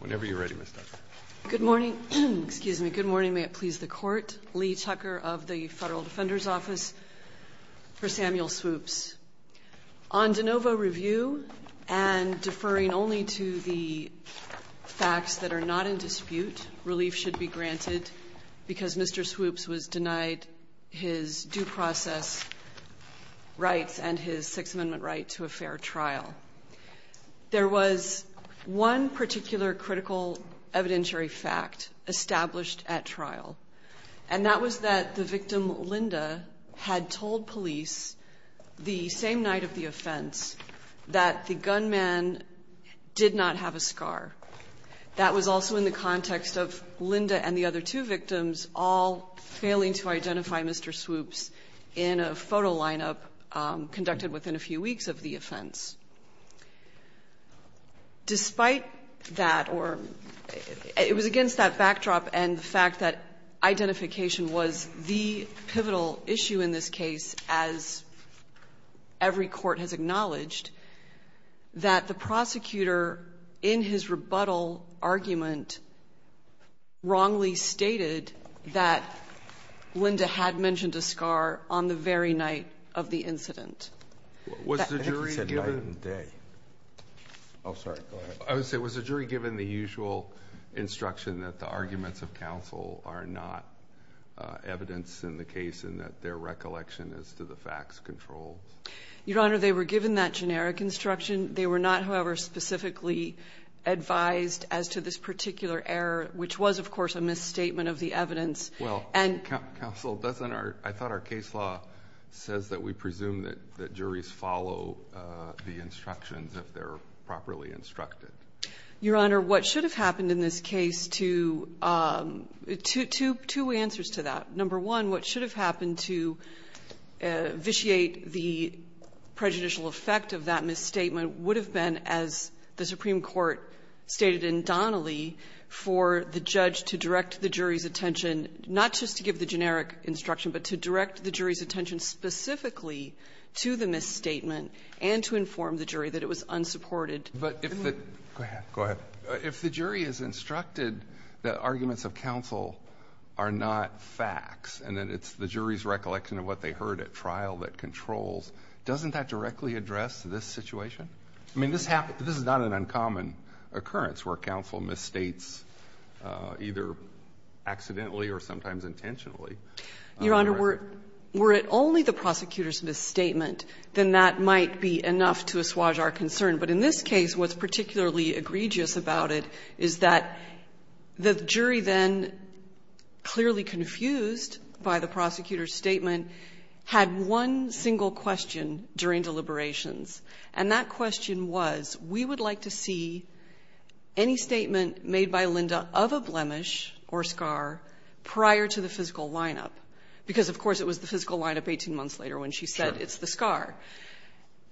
Whenever you're ready, Ms. Tucker. Good morning, excuse me, good morning. May it please the court. Lee Tucker of the Federal Defender's Office for Samuel Swoopes. On de novo review and deferring only to the facts that are not in dispute, relief should be granted because Mr. Swoopes was denied his due process rights and his Sixth Amendment right to a fair trial. There was one particular critical evidentiary fact established at trial and that was that the victim Linda had told police the same night of the offense that the gunman did not have a scar. That was also in the context of Linda and the other two victims all failing to identify Mr. Swoopes in a photo lineup conducted within a few weeks of the offense. Despite that, or it was against that backdrop and the fact that identification was the pivotal issue in this case, as every court has acknowledged, that the prosecutor in his rebuttal argument wrongly stated that Linda had mentioned a scar on the very night of the incident. Was the jury given the usual instruction that the arguments of counsel are not evidence in the case and that their recollection as to the facts controls? Your Honor, they were given that generic instruction. They were not, however, specifically advised as to this particular error, which was, of course, a misstatement of the evidence. Well, counsel, doesn't our – I thought our case law says that we presume that juries follow the instructions if they're properly instructed. Your Honor, what should have happened in this case to – two answers to that. Number one, what should have happened to vitiate the prejudicial effect of that misstatement would have been, as the Supreme Court stated indomitably, for the judge to direct the jury's attention, not just to give the generic instruction, but to direct the jury's attention specifically to the misstatement and to inform the jury that it was unsupported. But if the jury is instructed that arguments of counsel are not facts and that it's the jury's recollection of what they heard at trial that controls, doesn't that directly address this situation? I mean, this is not an uncommon occurrence where counsel misstates either accidentally or sometimes intentionally. Your Honor, were it only the prosecutor's misstatement, then that might be enough to assuage our concern. But in this case, what's particularly egregious about it is that the jury then, clearly confused by the prosecutor's statement, had one single question during the deliberations, and that question was, we would like to see any statement made by Linda of a blemish or scar prior to the physical lineup, because, of course, it was the physical lineup 18 months later when she said it's the scar.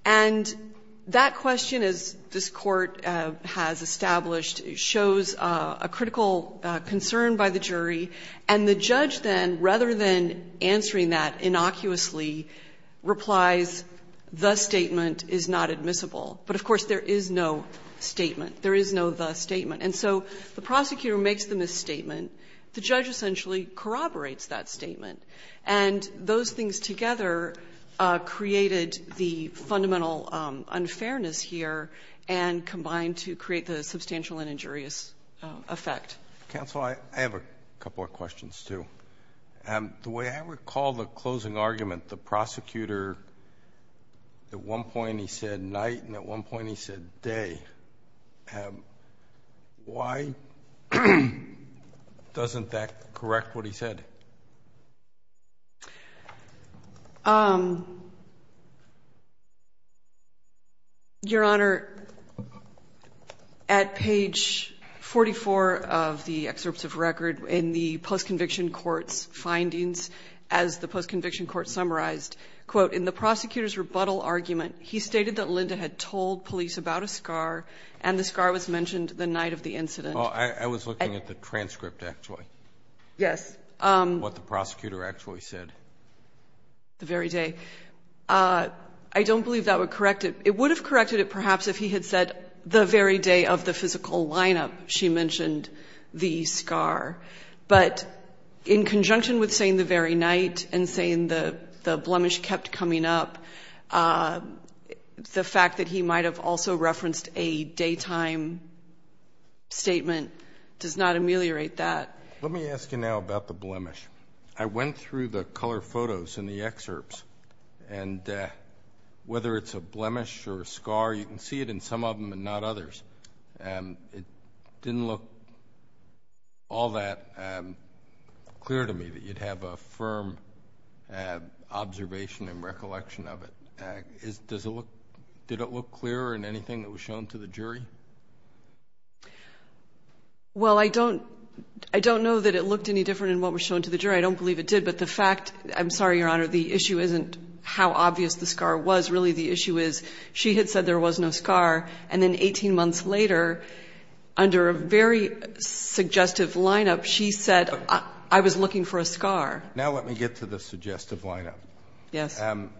And that question, as this Court has established, shows a critical concern by the jury, and the judge then, rather than answering that innocuously, replies, the statement is not admissible. But, of course, there is no statement. There is no the statement. And so the prosecutor makes the misstatement. The judge essentially corroborates that statement. And those things together created the fundamental unfairness here and combined to create the substantial and injurious effect. Counsel, I have a couple of questions, too. The way I recall the closing argument, the prosecutor, at one point he said night, and at one point he said day. Why doesn't that correct what he said? Your Honor, at page 44 of the excerpts of record in the post-conviction court's findings, as the post-conviction court summarized, quote, in the prosecutor's rebuttal argument, he stated that Linda had told police about a scar, and the scar was mentioned the night of the incident. Oh, I was looking at the transcript, actually. Yes. What the prosecutor actually said. The very day. I don't believe that would correct it. It would have corrected it, perhaps, if he had said the very day of the physical lineup, she mentioned the scar. But in conjunction with saying the very night and saying the blemish kept coming up, the fact that he might have also referenced a daytime statement does not ameliorate that. Let me ask you now about the blemish. I went through the color photos in the excerpts, and whether it's a blemish or a scar, you can see it in some of them and not others. It didn't look all that clear to me that you'd have a firm observation and recollection of it. Did it look clear in anything that was shown to the jury? Well, I don't know that it looked any different in what was shown to the jury. I don't believe it did. But the fact, I'm sorry, Your Honor, the issue isn't how obvious the scar was. Really, the issue is she had said there was no scar. And then 18 months later, under a very suggestive lineup, she said, I was looking for a scar. Now let me get to the suggestive lineup. Yes. I'm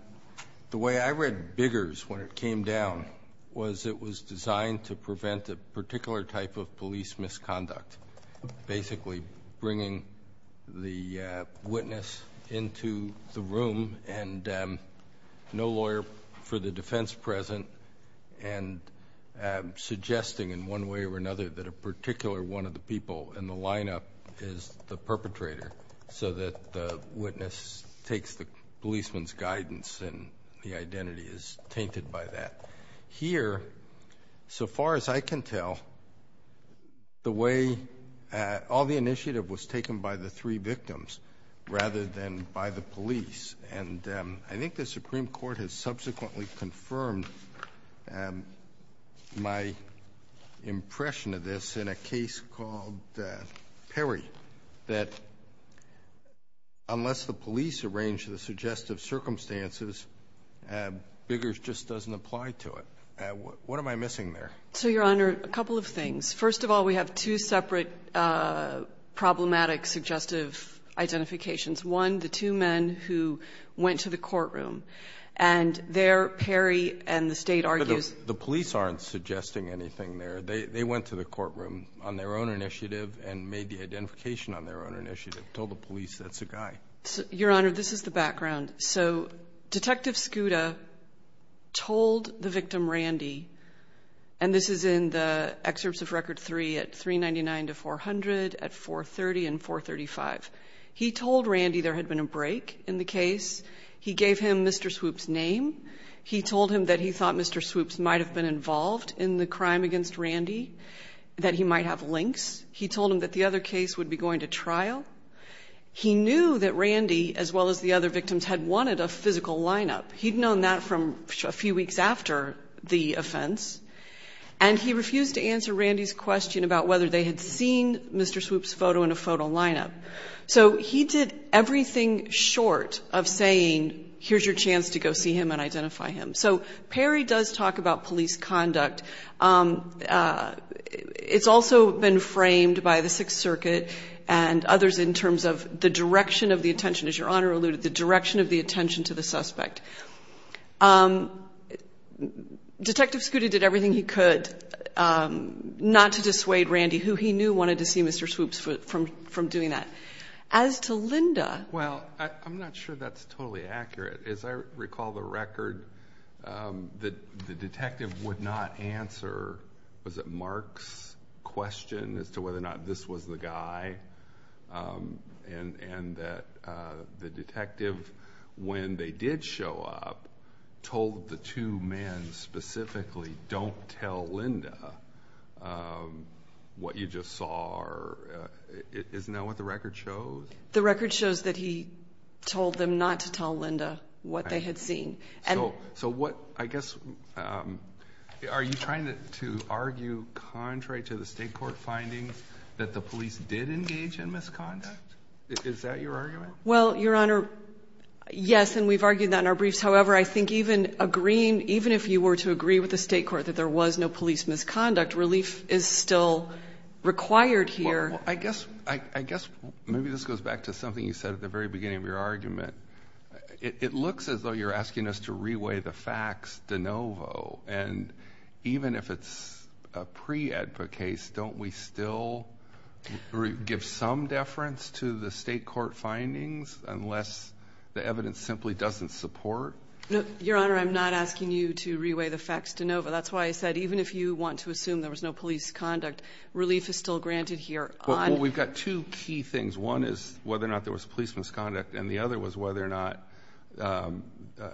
trying to prevent a particular type of police misconduct, basically bringing the witness into the room and no lawyer for the defense present, and suggesting in one way or another that a particular one of the people in the lineup is the perpetrator so that the witness takes the policeman's guidance and the identity is tainted by that. Here, so far as I can tell, all the initiative was taken by the three victims rather than by the police. And I think the Supreme Court has subsequently confirmed my impression of this in a case called Perry, that unless the police arrange the suggestive circumstances, Biggers just doesn't apply to it. What am I missing there? So, Your Honor, a couple of things. First of all, we have two separate problematic suggestive identifications. One, the two men who went to the courtroom. And there, Perry and the state argues... The police aren't suggesting anything there. They went to the courtroom on their own initiative and made the identification on their own initiative, told the police that's the guy. Your Honor, this is the background. So, Detective Scuda told the victim, Randy, and this is in the excerpts of Record 3 at 399 to 400, at 430 and 435. He told Randy there had been a break in the case. He gave him Mr. Swoop's name. He told him that he thought Mr. Swoop might have been involved in the crime against Randy, that he might have links. He told him that the other case would be going to trial. He knew that Randy, as well as the other victims, had wanted a physical lineup. He'd known that from a few weeks after the offense. And he refused to answer Randy's question about whether they had seen Mr. Swoop's photo in a photo lineup. So, he did everything short of saying, here's your chance to go see him and identify him. So, Perry does talk about police conduct. It's also been framed by the Sixth Circuit and others in terms of the direction of the attention, as Your Honor alluded, the direction of the attention to the suspect. Detective Scuda did everything he could not to dissuade Randy, who he knew, wanted to see Mr. Swoop's foot from doing that. As to Linda. Well, I'm not sure that's totally accurate. As I recall the record, the detective would not answer, was it Mark's question as to whether or not this was the guy? And that the detective, when they did show up, told the two men specifically, don't tell Linda what you just saw. Isn't that what the record shows? The record shows that he told them not to tell Linda what they had seen. So, what, I guess, are you trying to argue contrary to the state court finding that the police did engage in misconduct? Is that your argument? Well, Your Honor, yes, and we've argued that in our briefs. However, I think even agreeing, even if you were to agree with the state court that there was no police misconduct, relief is still required here. I guess maybe this goes back to something you said at the very beginning of your argument. It looks as though you're asking us to reweigh the facts de novo. And even if it's a pre-EDPA case, don't we still give some deference to the state court findings unless the evidence simply doesn't support? Your Honor, I'm not asking you to reweigh the facts de novo. That's why I said, even if you want to assume there was no police conduct, relief is still Well, we've got two key things. One is whether or not there was police misconduct. And the other was whether or not,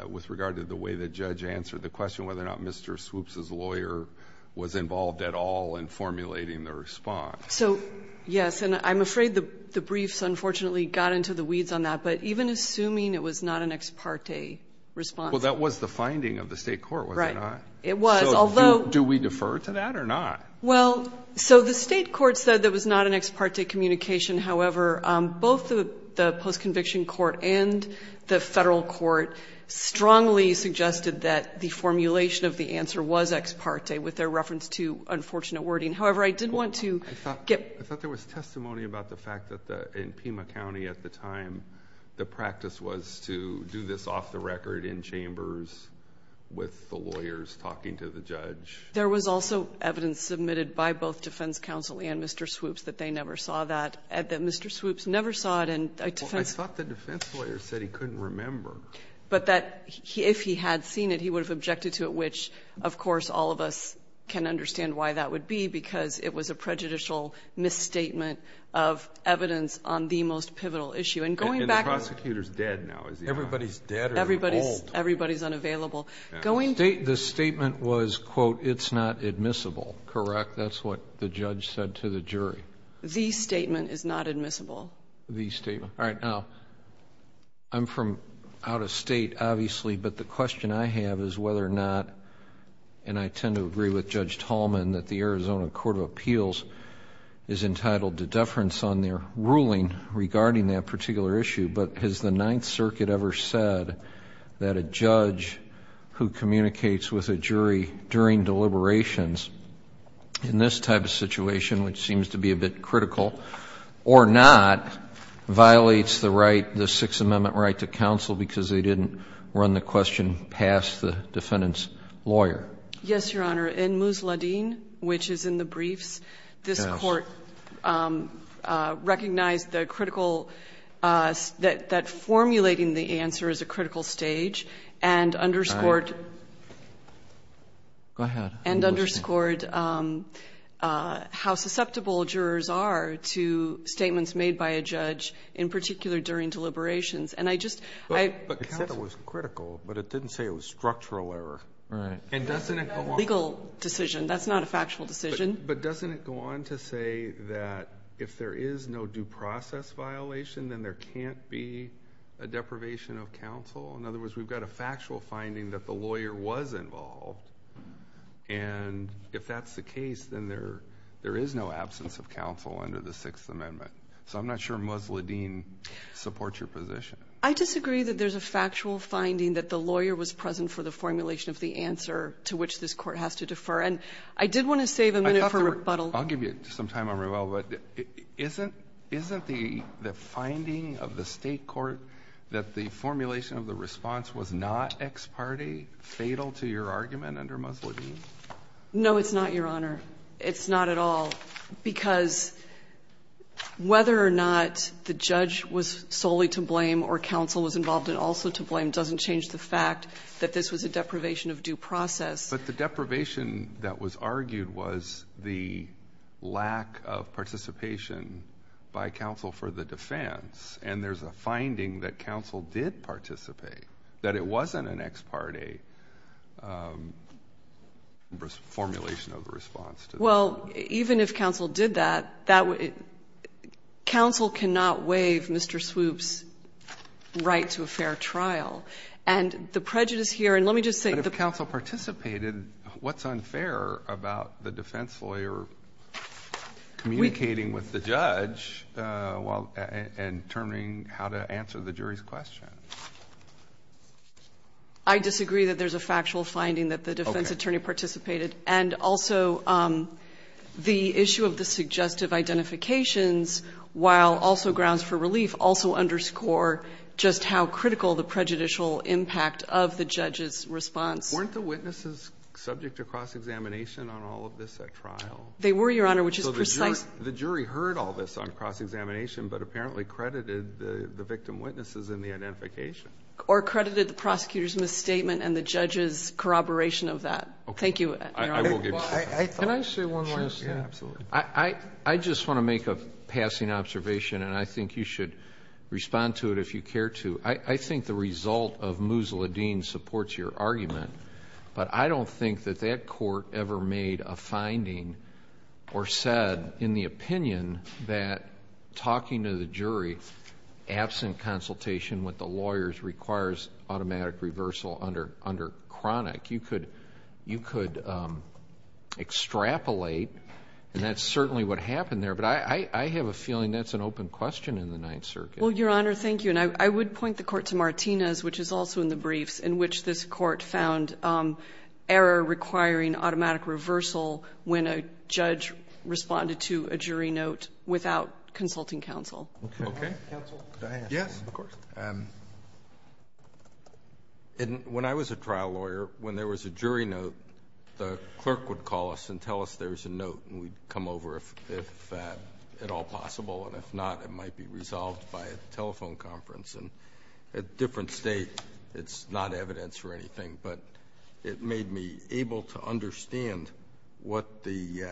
with regard to the way the judge answered the question, whether or not Mr. Swoops's lawyer was involved at all in formulating the response. So, yes, and I'm afraid the briefs, unfortunately, got into the weeds on that. But even assuming it was not an ex parte response. Well, that was the finding of the state court, was it not? It was, although Do we defer to that or not? Well, so the state court said there was not an ex parte communication. However, both the post-conviction court and the federal court strongly suggested that the formulation of the answer was ex parte with their reference to unfortunate wording. However, I did want to get I thought there was testimony about the fact that in Pima County at the time, the practice was to do this off the record in chambers with the lawyers talking to the judge. There was also evidence submitted by both defense counsel and Mr. Swoops that they never saw that, that Mr. Swoops never saw it. Well, I thought the defense lawyer said he couldn't remember. But that if he had seen it, he would have objected to it, which, of course, all of us can understand why that would be, because it was a prejudicial misstatement of evidence on the most pivotal issue. And going back And the prosecutor's dead now, is he not? Everybody's dead or old. Everybody's unavailable. The statement was, quote, it's not admissible. Correct? That's what the judge said to the jury. The statement is not admissible. The statement. All right. Now, I'm from out of state, obviously. But the question I have is whether or not, and I tend to agree with Judge Tallman, that the Arizona Court of Appeals is entitled to deference on their ruling regarding that particular issue. But has the Ninth Circuit ever said that a judge who communicates with a jury during deliberations in this type of situation, which seems to be a bit critical, or not, violates the right, the Sixth Amendment right to counsel because they didn't run the question past the defendant's lawyer? Yes, Your Honor. In Musladeen, which is in the briefs, this court recognized the critical that formulating the answer is a critical stage and underscored. All right. Go ahead. And underscored how susceptible jurors are to statements made by a judge, in particular, during deliberations. And I just, I- But it said it was critical, but it didn't say it was structural error. Right. And doesn't it go on- Legal decision. That's not a factual decision. But doesn't it go on to say that if there is no due process violation, then there can't be a deprivation of counsel? In other words, we've got a factual finding that the lawyer was involved. And if that's the case, then there is no absence of counsel under the Sixth Amendment. So I'm not sure Musladeen supports your position. I disagree that there's a factual finding that the lawyer was present for the formulation of the answer to which this court has to defer. And I did want to save a minute for rebuttal. I'll give you some time on rebuttal. But isn't the finding of the State court that the formulation of the response was not ex parte fatal to your argument under Musladeen? No, it's not, Your Honor. It's not at all. Because whether or not the judge was solely to blame or counsel was involved and also to blame doesn't change the fact that this was a deprivation of due process. The deprivation that was argued was the lack of participation by counsel for the defense. And there's a finding that counsel did participate, that it wasn't an ex parte formulation of the response. Well, even if counsel did that, that would — counsel cannot waive Mr. Swoop's right to a fair trial. If counsel participated, what's unfair about the defense lawyer communicating with the judge and determining how to answer the jury's question? I disagree that there's a factual finding that the defense attorney participated. And also, the issue of the suggestive identifications, while also grounds for relief, also underscore just how critical the prejudicial impact of the judge's response. Weren't the witnesses subject to cross-examination on all of this at trial? They were, Your Honor, which is precise. The jury heard all this on cross-examination, but apparently credited the victim witnesses in the identification. Or credited the prosecutor's misstatement and the judge's corroboration of that. Thank you, Your Honor. I will give you that. Can I say one more thing? Sure, absolutely. I just want to make a passing observation. And I think you should respond to it if you care to. I think the result of Musil ad-Din supports your argument. But I don't think that that court ever made a finding or said, in the opinion, that talking to the jury absent consultation with the lawyers requires automatic reversal under chronic. You could extrapolate. And that's certainly what happened there. But I have a feeling that's an open question in the Ninth Circuit. Well, Your Honor, thank you. And I would point the court to Martinez, which is also in the briefs, in which this court found error requiring automatic reversal when a judge responded to a jury note without consulting counsel. Okay. Yes, of course. And when I was a trial lawyer, when there was a jury note, the clerk would call us and tell us there was a note. And we'd come over if at all possible. And if not, it might be resolved by a telephone conference. And at a different state, it's not evidence or anything. But it made me able to understand what the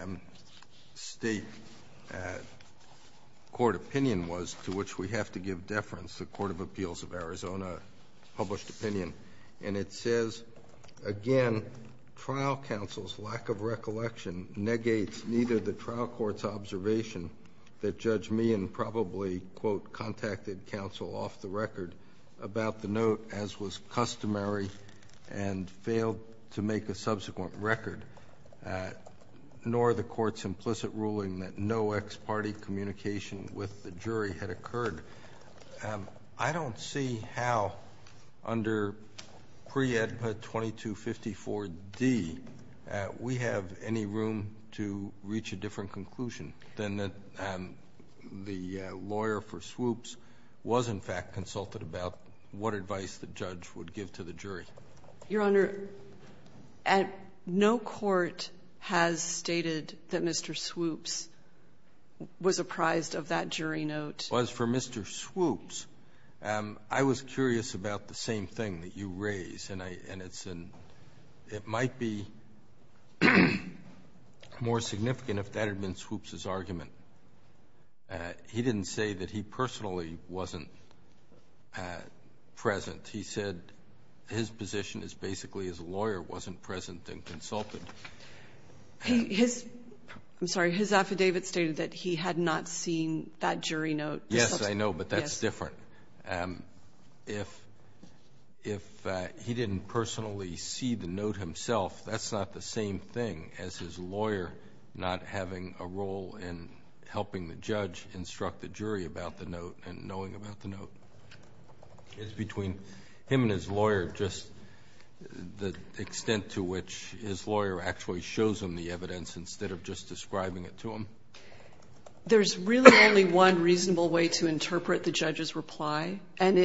state court opinion was to which we have to give deference. The Court of Appeals of Arizona published opinion. And it says, again, trial counsel's lack of recollection negates neither the trial court's observation that Judge Meehan probably, quote, contacted counsel off the record about the note as was customary and failed to make a subsequent record, nor the court's implicit ruling that no ex parte communication with the jury had I don't see how, under pre-EDPA 2254d, we have any room to reach a different conclusion than that the lawyer for Swoops was, in fact, consulted about what advice the judge would give to the jury. Your Honor, no court has stated that Mr. Swoops was apprised of that jury note. As for Mr. Swoops, I was curious about the same thing that you raise. And it might be more significant if that had been Swoops' argument. He didn't say that he personally wasn't present. He said his position is basically his lawyer wasn't present and consulted. His, I'm sorry, his affidavit stated that he had not seen that jury note. Yes, I know, but that's different. If he didn't personally see the note himself, that's not the same thing as his lawyer not having a role in helping the judge instruct the jury about the note and knowing about the note. It's between him and his lawyer, just the extent to which his lawyer actually shows him the evidence instead of just describing it to him? There's really only one reasonable way to interpret the judge's reply, and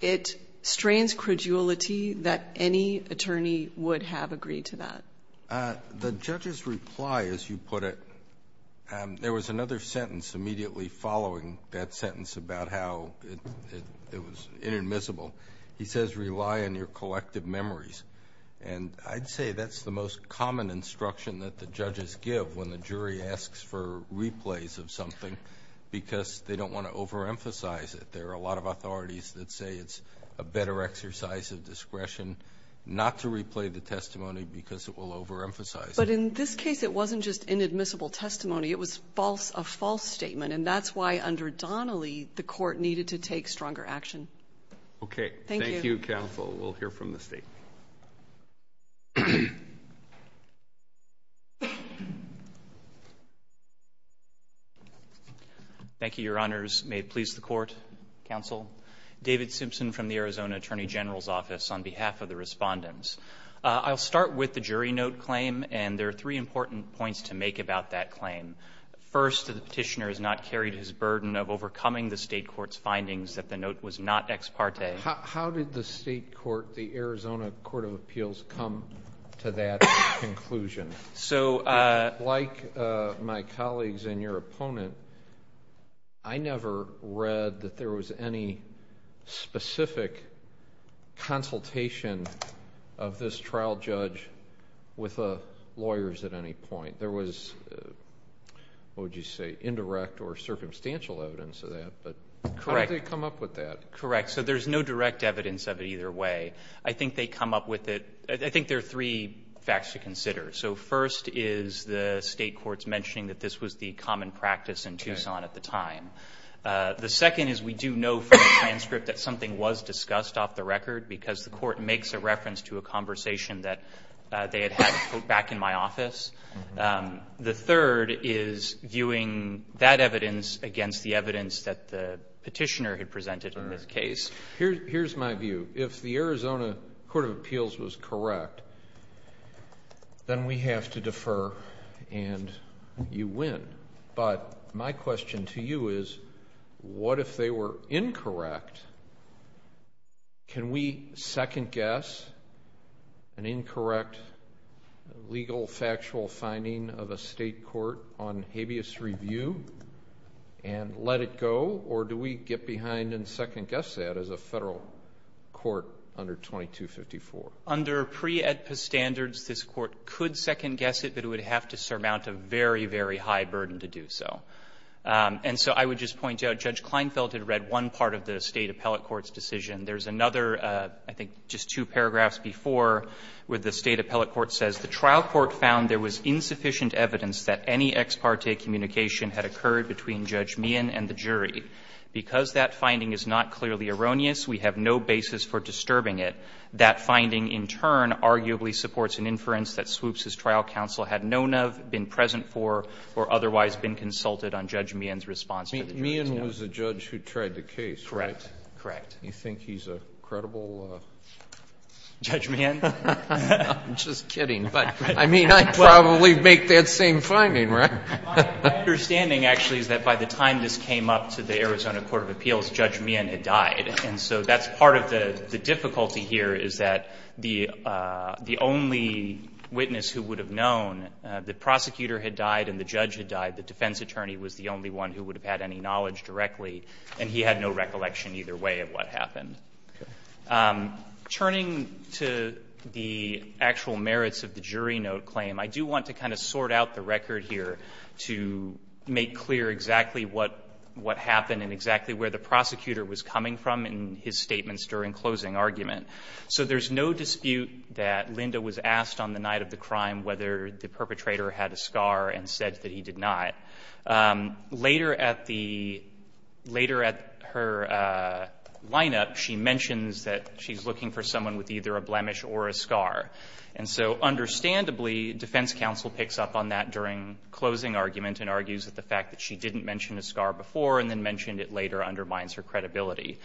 it strains credulity that any attorney would have agreed to that. The judge's reply, as you put it, there was another sentence immediately following that sentence about how it was inadmissible. He says, rely on your collective memories. And I'd say that's the most common instruction that the judges give when the jury asks for replays of something because they don't want to overemphasize it. There are a lot of authorities that say it's a better exercise of discretion not to replay the testimony because it will overemphasize it. But in this case, it wasn't just inadmissible testimony. It was a false statement. And that's why, under Donnelly, the court needed to take stronger action. OK. Thank you. Thank you, counsel. We'll hear from the state. Thank you, Your Honors. May it please the court, counsel. David Simpson from the Arizona Attorney General's Office on behalf of the respondents. I'll start with the jury note claim, and there are three important points to make about that claim. First, the petitioner has not carried his burden of overcoming the state court's findings that the note was not ex parte. How did the state court, the Arizona Court of Appeals, come to that conclusion? So like my colleagues and your opponent, I never read that there was any specific consultation of this trial judge with the lawyers at any point. There was, what would you say, indirect or circumstantial evidence of that. But how did they come up with that? Correct. So there's no direct evidence of it either way. I think they come up with it. I think there are three facts to consider. So first is the state court's mentioning that this was the common practice in Tucson at the time. The second is we do know from the transcript that something was discussed off the record because the court makes a reference to a conversation that they had had back in my office. The third is viewing that evidence against the evidence that the petitioner had presented in this case. Here's my view. If the Arizona Court of Appeals was correct, then we have to defer and you win. But my question to you is, what if they were incorrect? Can we second guess an incorrect legal factual finding of a state court on habeas review and let it go? Or do we get behind and second guess that as a federal court under 2254? Under pre-AEDPA standards, this court could second guess it, but it would have to surmount a very, very high burden to do so. And so I would just point out, Judge Kleinfeld had read one part of the state appellate court's decision. There's another, I think just two paragraphs before, where the state appellate court says, The trial court found there was insufficient evidence that any ex parte communication had occurred between Judge Meehan and the jury. Because that finding is not clearly erroneous, we have no basis for disturbing it. That finding, in turn, arguably supports an inference that Swoops' trial counsel had known of, been present for, or otherwise been consulted on Judge Meehan's response to the jury's case. And that was the judge who tried the case, right? Correct. Correct. You think he's a credible judge? Judge Meehan? I'm just kidding. But I mean, I'd probably make that same finding, right? My understanding, actually, is that by the time this came up to the Arizona court of appeals, Judge Meehan had died. And so that's part of the difficulty here, is that the only witness who would have known the prosecutor had died and the judge had died, the defense attorney was the only one who had any knowledge directly, and he had no recollection either way of what happened. Turning to the actual merits of the jury note claim, I do want to kind of sort out the record here to make clear exactly what happened and exactly where the prosecutor was coming from in his statements during closing argument. So there's no dispute that Linda was asked on the night of the crime whether the perpetrator had a scar and said that he did not. Later at the – later at her lineup, she mentions that she's looking for someone with either a blemish or a scar. And so understandably, defense counsel picks up on that during closing argument and argues that the fact that she didn't mention a scar before and then mentioned it later undermines her credibility.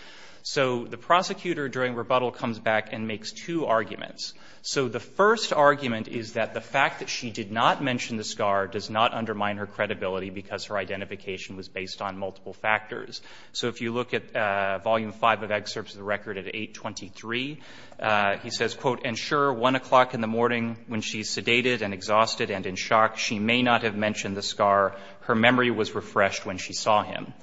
So the prosecutor during rebuttal comes back and makes two arguments. So the first argument is that the fact that she did not mention the scar does not undermine her credibility because her identification was based on multiple factors. So if you look at volume 5 of excerpts of the record at 823, he says, quote, and sure, 1 o'clock in the morning when she's sedated and exhausted and in shock, she may not have mentioned the scar. Her memory was refreshed when she saw him.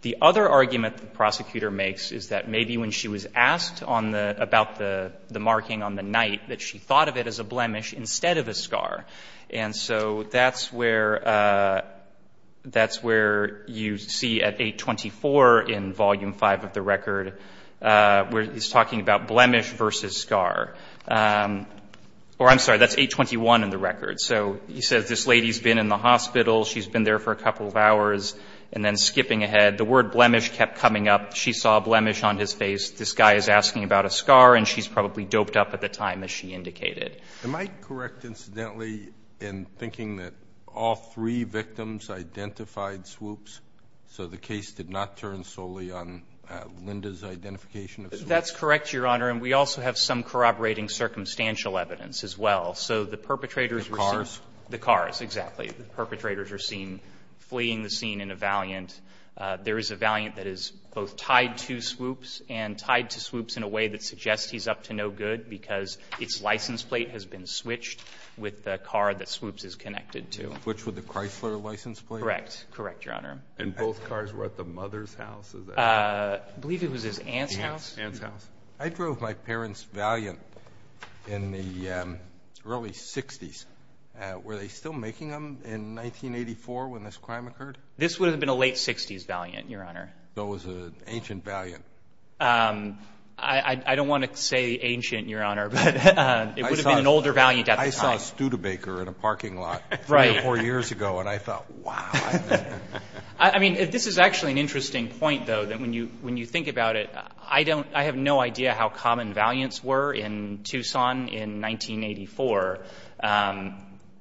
The other argument the prosecutor makes is that maybe when she was asked on the – about the marking on the night, that she thought of it as a blemish instead of a scar. And so that's where – that's where you see at 824 in volume 5 of the record, where he's talking about blemish versus scar. Or I'm sorry, that's 821 in the record. So he says, this lady's been in the hospital, she's been there for a couple of hours, and then skipping ahead, the word blemish kept coming up, she saw a blemish on his face, this guy is asking about a scar, and she's probably doped up at the time as she indicated. Am I correct, incidentally, in thinking that all three victims identified swoops, so the case did not turn solely on Linda's identification of swoops? That's correct, Your Honor. And we also have some corroborating circumstantial evidence as well. So the perpetrators were seen – The cars? The cars, exactly. The perpetrators were seen fleeing the scene in a valiant. There is a valiant that is both tied to swoops and tied to swoops in a way that suggests he's up to no good because its license plate has been switched with the car that swoops is connected to. Switched with the Chrysler license plate? Correct, Your Honor. And both cars were at the mother's house? I believe it was his aunt's house. I drove my parents' valiant in the early 60s. Were they still making them in 1984 when this crime occurred? This would have been a late 60s valiant, Your Honor. So it was an ancient valiant? I don't want to say ancient, Your Honor, but it would have been an older valiant at the time. I saw a Studebaker in a parking lot three or four years ago, and I thought, wow. I mean, this is actually an interesting point, though, that when you think about it, I don't – I have no idea how common valiants were in Tucson in 1984.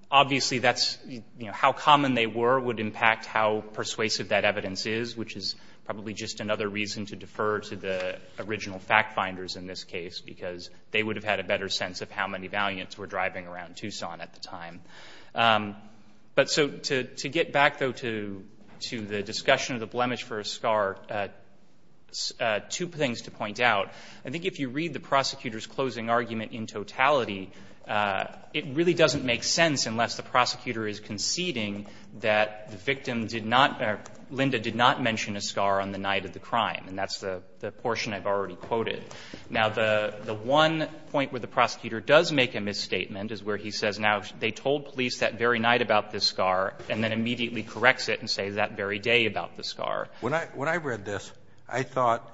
Obviously, that's – how common they were would impact how persuasive that evidence is, which is probably just another reason to defer to the original fact-finders in this case, because they would have had a better sense of how many valiants were driving around Tucson at the time. But so to get back, though, to the discussion of the blemish for a scar, two things to point out. I think if you read the prosecutor's closing argument in totality, it really doesn't make sense unless the prosecutor is conceding that the victim did not – Linda did not mention a scar on the night of the crime, and that's the portion I've already quoted. Now, the one point where the prosecutor does make a misstatement is where he says, now, they told police that very night about this scar, and then immediately corrects it and says that very day about the scar. When I read this, I thought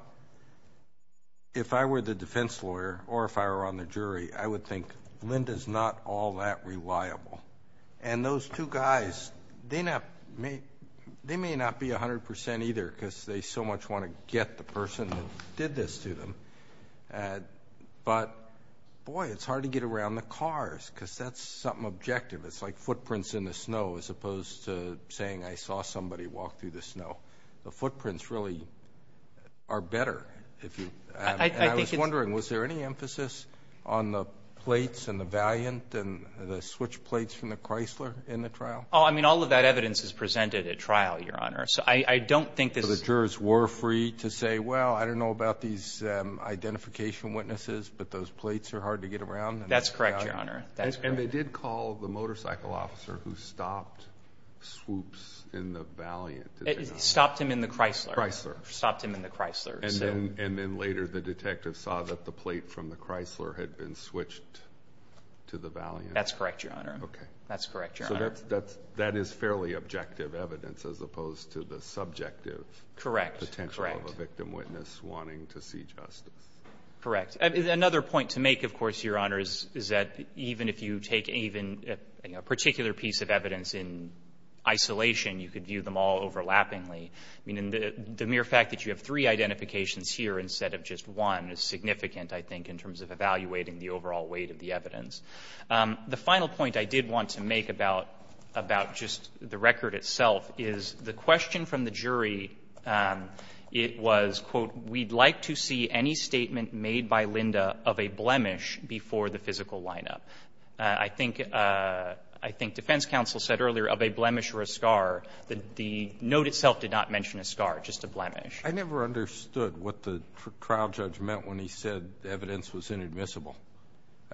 if I were the defense lawyer or if I were on the jury, I would think Linda's not all that reliable. And those two guys, they may not be 100 percent either because they so much want to get the person that did this to them. But, boy, it's hard to get around the cars because that's something objective. It's like footprints in the snow as opposed to saying, I saw somebody walk through the snow. The footprints really are better. I was wondering, was there any emphasis on the plates and the valiant and the switch plates from the Chrysler in the trial? Oh, I mean, all of that evidence is presented at trial, Your Honor. So I don't think this is – So the jurors were free to say, well, I don't know about these identification witnesses, but those plates are hard to get around. That's correct, Your Honor. And they did call the motorcycle officer who stopped Swoops in the valiant. Stopped him in the Chrysler. Chrysler. Stopped him in the Chrysler. And then later the detective saw that the plate from the Chrysler had been switched to the valiant. That's correct, Your Honor. Okay. That's correct, Your Honor. So that is fairly objective evidence as opposed to the subjective potential of a victim witness wanting to see justice. Correct. Another point to make, of course, Your Honor, is that even if you take a particular piece of evidence in isolation, you could view them all overlappingly. I mean, the mere fact that you have three identifications here instead of just one is significant, I think, in terms of evaluating the overall weight of the evidence. The final point I did want to make about – about just the record itself is the question from the jury, it was, quote, we'd like to see any statement made by Linda of a blemish before the physical lineup. I think – I think defense counsel said earlier of a blemish or a scar. The note itself did not mention a scar, just a blemish. I never understood what the trial judge meant when he said evidence was inadmissible.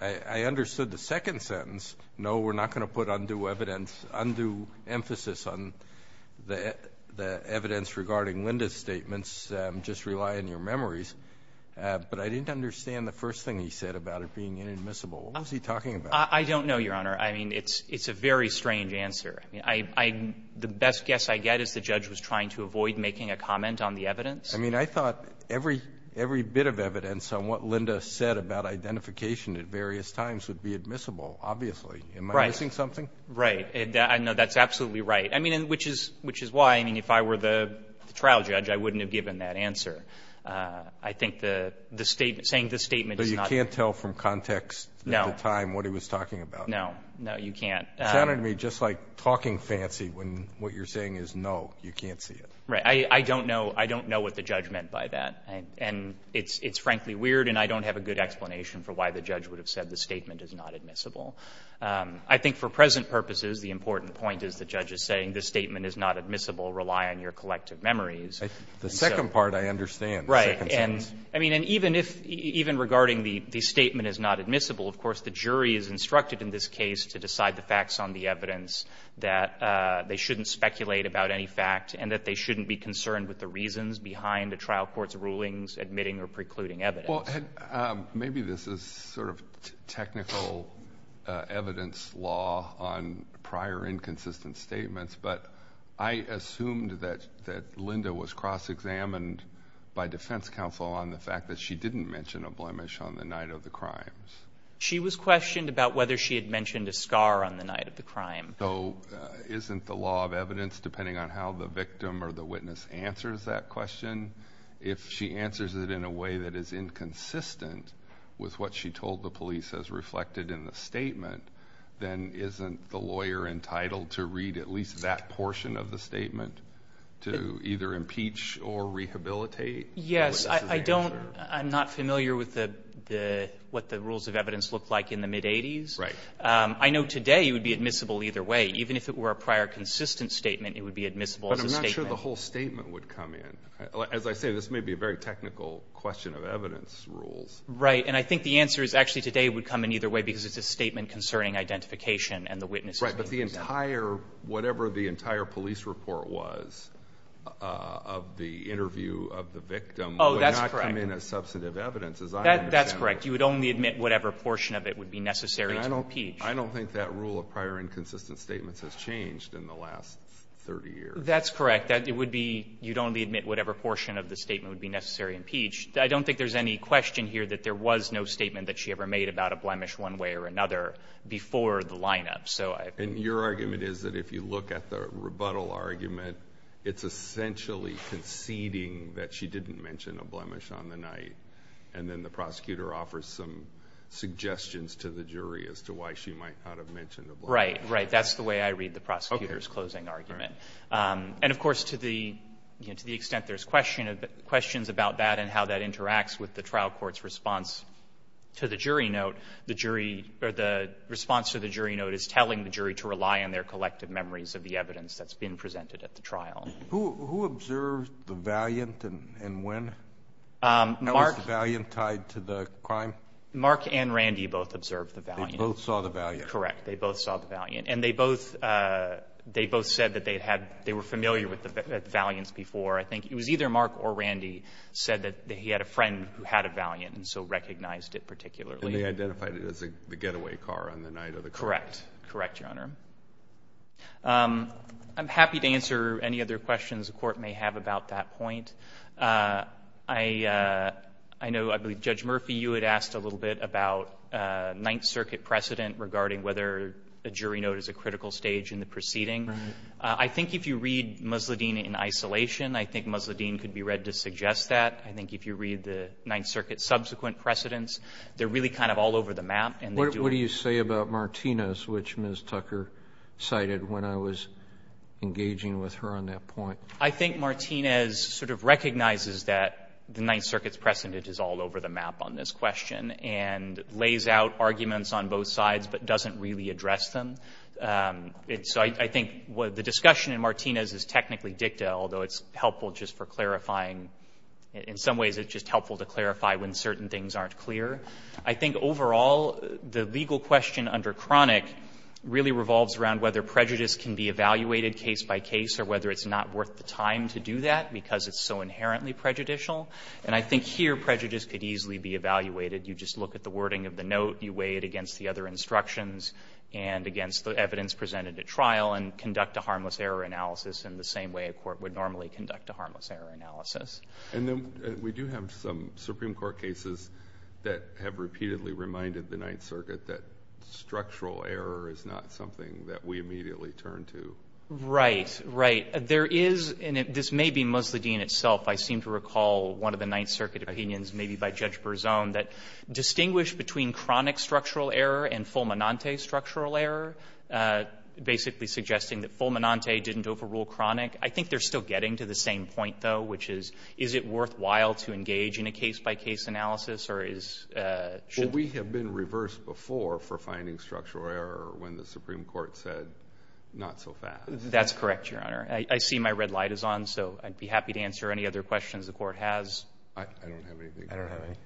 I understood the second sentence, no, we're not going to put undue evidence – undue emphasis on the evidence regarding Linda's statements, just rely on your memories. But I didn't understand the first thing he said about it being inadmissible. What was he talking about? I don't know, Your Honor. I mean, it's a very strange answer. I mean, I – the best guess I get is the judge was trying to avoid making a comment on the evidence. I mean, I thought every – every bit of evidence on what Linda said about identification at various times would be admissible, obviously. Right. Am I missing something? Right. I know that's absolutely right. I mean, which is – which is why, I mean, if I were the trial judge, I wouldn't have given that answer. I think the statement – saying the statement is not – But you can't tell from context at the time what he was talking about. No. No, you can't. It sounded to me just like talking fancy when what you're saying is no. You can't see it. Right. I don't know – I don't know what the judge meant by that. And it's – it's frankly weird, and I don't have a good explanation for why the judge would have said the statement is not admissible. I think for present purposes, the important point is the judge is saying the statement is not admissible. Rely on your collective memories. The second part I understand. Right. And – I mean, and even if – even regarding the statement is not admissible, of course, the jury is instructed in this case to decide the facts on the evidence, that they shouldn't speculate about any fact, and that they shouldn't be concerned with the reasons behind a trial court's rulings admitting or precluding evidence. Well, maybe this is sort of technical evidence law on prior inconsistent statements, but I assumed that Linda was cross-examined by defense counsel on the fact that she didn't mention a blemish on the night of the crimes. She was questioned about whether she had mentioned a scar on the night of the crime. So isn't the law of evidence, depending on how the victim or the witness answers that question, if she answers it in a way that is inconsistent with what she told the police as reflected in the statement, then isn't the lawyer entitled to read at least that portion of the statement to either impeach or rehabilitate? Yes. I'm not familiar with what the rules of evidence look like in the mid-'80s. Right. I know today it would be admissible either way. Even if it were a prior consistent statement, it would be admissible as a statement. But I'm not sure the whole statement would come in. As I say, this may be a very technical question of evidence rules. Right. And I think the answer is actually today it would come in either way, because it's a statement concerning identification and the witness's name. Right. But the entire, whatever the entire police report was of the interview of the victim would not come in as substantive evidence, as I understand it. That's correct. You would only admit whatever portion of it would be necessary to impeach. I don't think that rule of prior inconsistent statements has changed in the last 30 years. That's correct. It would be you'd only admit whatever portion of the statement would be necessary to impeach. I don't think there's any question here that there was no statement that she ever made about a blemish one way or another before the lineup. And your argument is that if you look at the rebuttal argument, it's essentially conceding that she didn't mention a blemish on the night. And then the prosecutor offers some suggestions to the jury as to why she might not have mentioned a blemish. Right. Right. That's the way I read the prosecutor's closing argument. And, of course, to the extent there's questions about that and how that interacts with the trial court's response to the jury note, the jury or the response to the jury note is telling the jury to rely on their collective memories of the evidence that's been presented at the trial. Who observed the valiant and when? How was the valiant tied to the crime? Mark and Randy both observed the valiant. They both saw the valiant. Correct. They both saw the valiant. And they both said that they were familiar with the valiants before. I think it was either Mark or Randy said that he had a friend who had a valiant and so recognized it particularly. And they identified it as the getaway car on the night of the crime. Correct. Correct, Your Honor. I'm happy to answer any other questions the court may have about that point. I know, I believe Judge Murphy, you had asked a little bit about Ninth Circuit precedent regarding whether a jury note is a critical stage in the proceeding. I think if you read Musladeen in isolation, I think Musladeen could be read to suggest that. I think if you read the Ninth Circuit subsequent precedents, they're really kind of all over the map. What do you say about Martinez, which Ms. Tucker cited when I was engaging with her on that point? I think Martinez sort of recognizes that the Ninth Circuit's precedent is all over the map on this question and lays out arguments on both sides but doesn't really address them. So I think the discussion in Martinez is technically dicta, although it's helpful just for clarifying, in some ways it's just helpful to clarify when certain things aren't clear. I think overall the legal question under chronic really revolves around whether prejudice can be evaluated case by case or whether it's not worth the time to do that because it's so inherently prejudicial. And I think here prejudice could easily be evaluated. You just look at the wording of the note, you weigh it against the other instructions and against the evidence presented at trial and conduct a harmless error analysis in the same way a court would normally conduct a harmless error analysis. And then we do have some Supreme Court cases that have repeatedly reminded the Ninth Circuit that structural error is not something that we immediately turn to. Right. Right. There is, and this may be Musladeen itself, I seem to recall one of the Ninth Circuit opinions, maybe by Judge Berzone, that distinguished between chronic structural error and full monante structural error, basically suggesting that full monante didn't overrule chronic. I think they're still getting to the same point, though, which is is it a harmless error analysis or is Well, we have been reversed before for finding structural error when the Supreme Court said not so fast. That's correct, Your Honor. I see my red light is on, so I'd be happy to answer any other questions the Court has. I don't have anything. I don't have anything.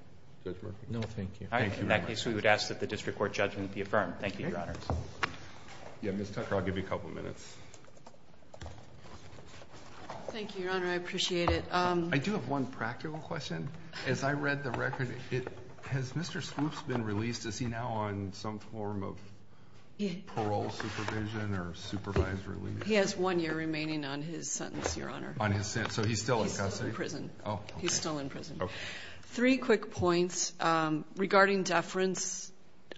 Judge Murphy? No, thank you. All right. In that case, we would ask that the district court judgment be affirmed. Thank you, Your Honor. Yeah, Ms. Tucker, I'll give you a couple minutes. Thank you, Your Honor. I appreciate it. I do have one practical question. As I read the record, has Mr. Skoops been released? Is he now on some form of parole supervision or supervisory leave? He has one year remaining on his sentence, Your Honor. On his sentence. So he's still in custody? He's still in prison. Oh, okay. He's still in prison. Okay. Three quick points regarding deference.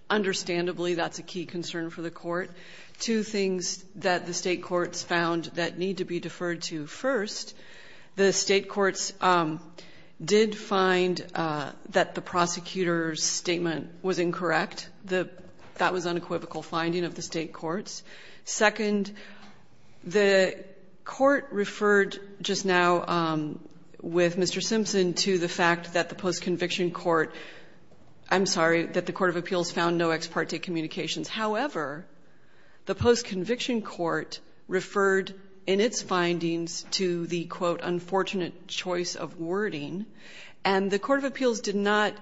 Understandably, that's a key concern for the Court. Two things that the state courts found that need to be deferred to first. The state courts did find that the prosecutor's statement was incorrect. That was unequivocal finding of the state courts. Second, the court referred just now with Mr. Simpson to the fact that the post-conviction court ‑‑ I'm sorry, that the court of appeals found no ex parte communications. However, the post-conviction court referred in its findings to the, quote, unfortunate choice of wording. And the court of appeals did not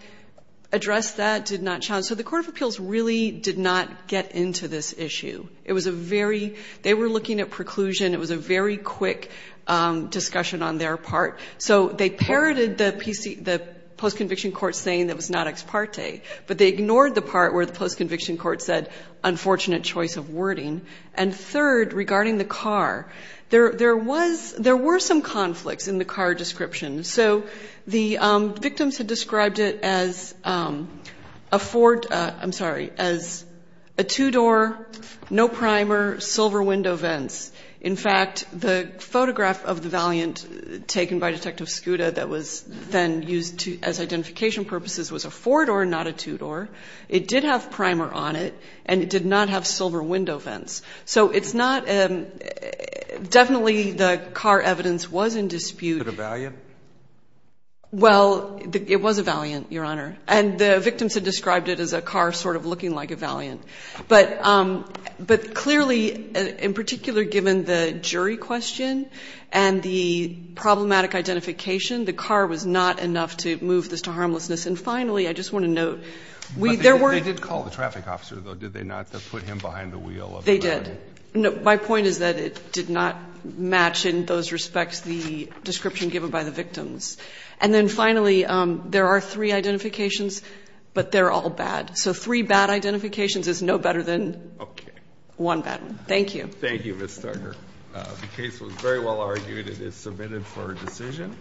address that, did not challenge that. So the court of appeals really did not get into this issue. It was a very ‑‑ they were looking at preclusion. It was a very quick discussion on their part. So they parroted the post- conviction court saying it was not ex parte. But they ignored the part where the post-conviction court said unfortunate choice of wording. And third, regarding the car, there was ‑‑ there were some conflicts in the car description. So the victims had described it as a four ‑‑ I'm sorry, as a two door, no primer, silver window vents. In fact, the photograph of the valiant taken by detective Scuda that was then used as identification purposes was a four door, not a two door. It did have primer on it. And it did not have silver window vents. So it's not ‑‑ definitely the car evidence was in dispute. Was it a valiant? Well, it was a valiant, Your Honor. And the victims had described it as a car sort of looking like a valiant. But clearly, in particular, given the jury question and the problematic identification, the car was not enough to move this to harmlessness. And finally, I just want to note ‑‑ They did call the traffic officer, though, did they not, to put him behind the wheel of the car? They did. My point is that it did not match in those respects the description given by the victims. And then finally, there are three identifications, but they're all bad. So three bad identifications is no better than one bad one. Thank you. Thank you, Ms. Thugger. The case was very well argued. It is submitted for a decision.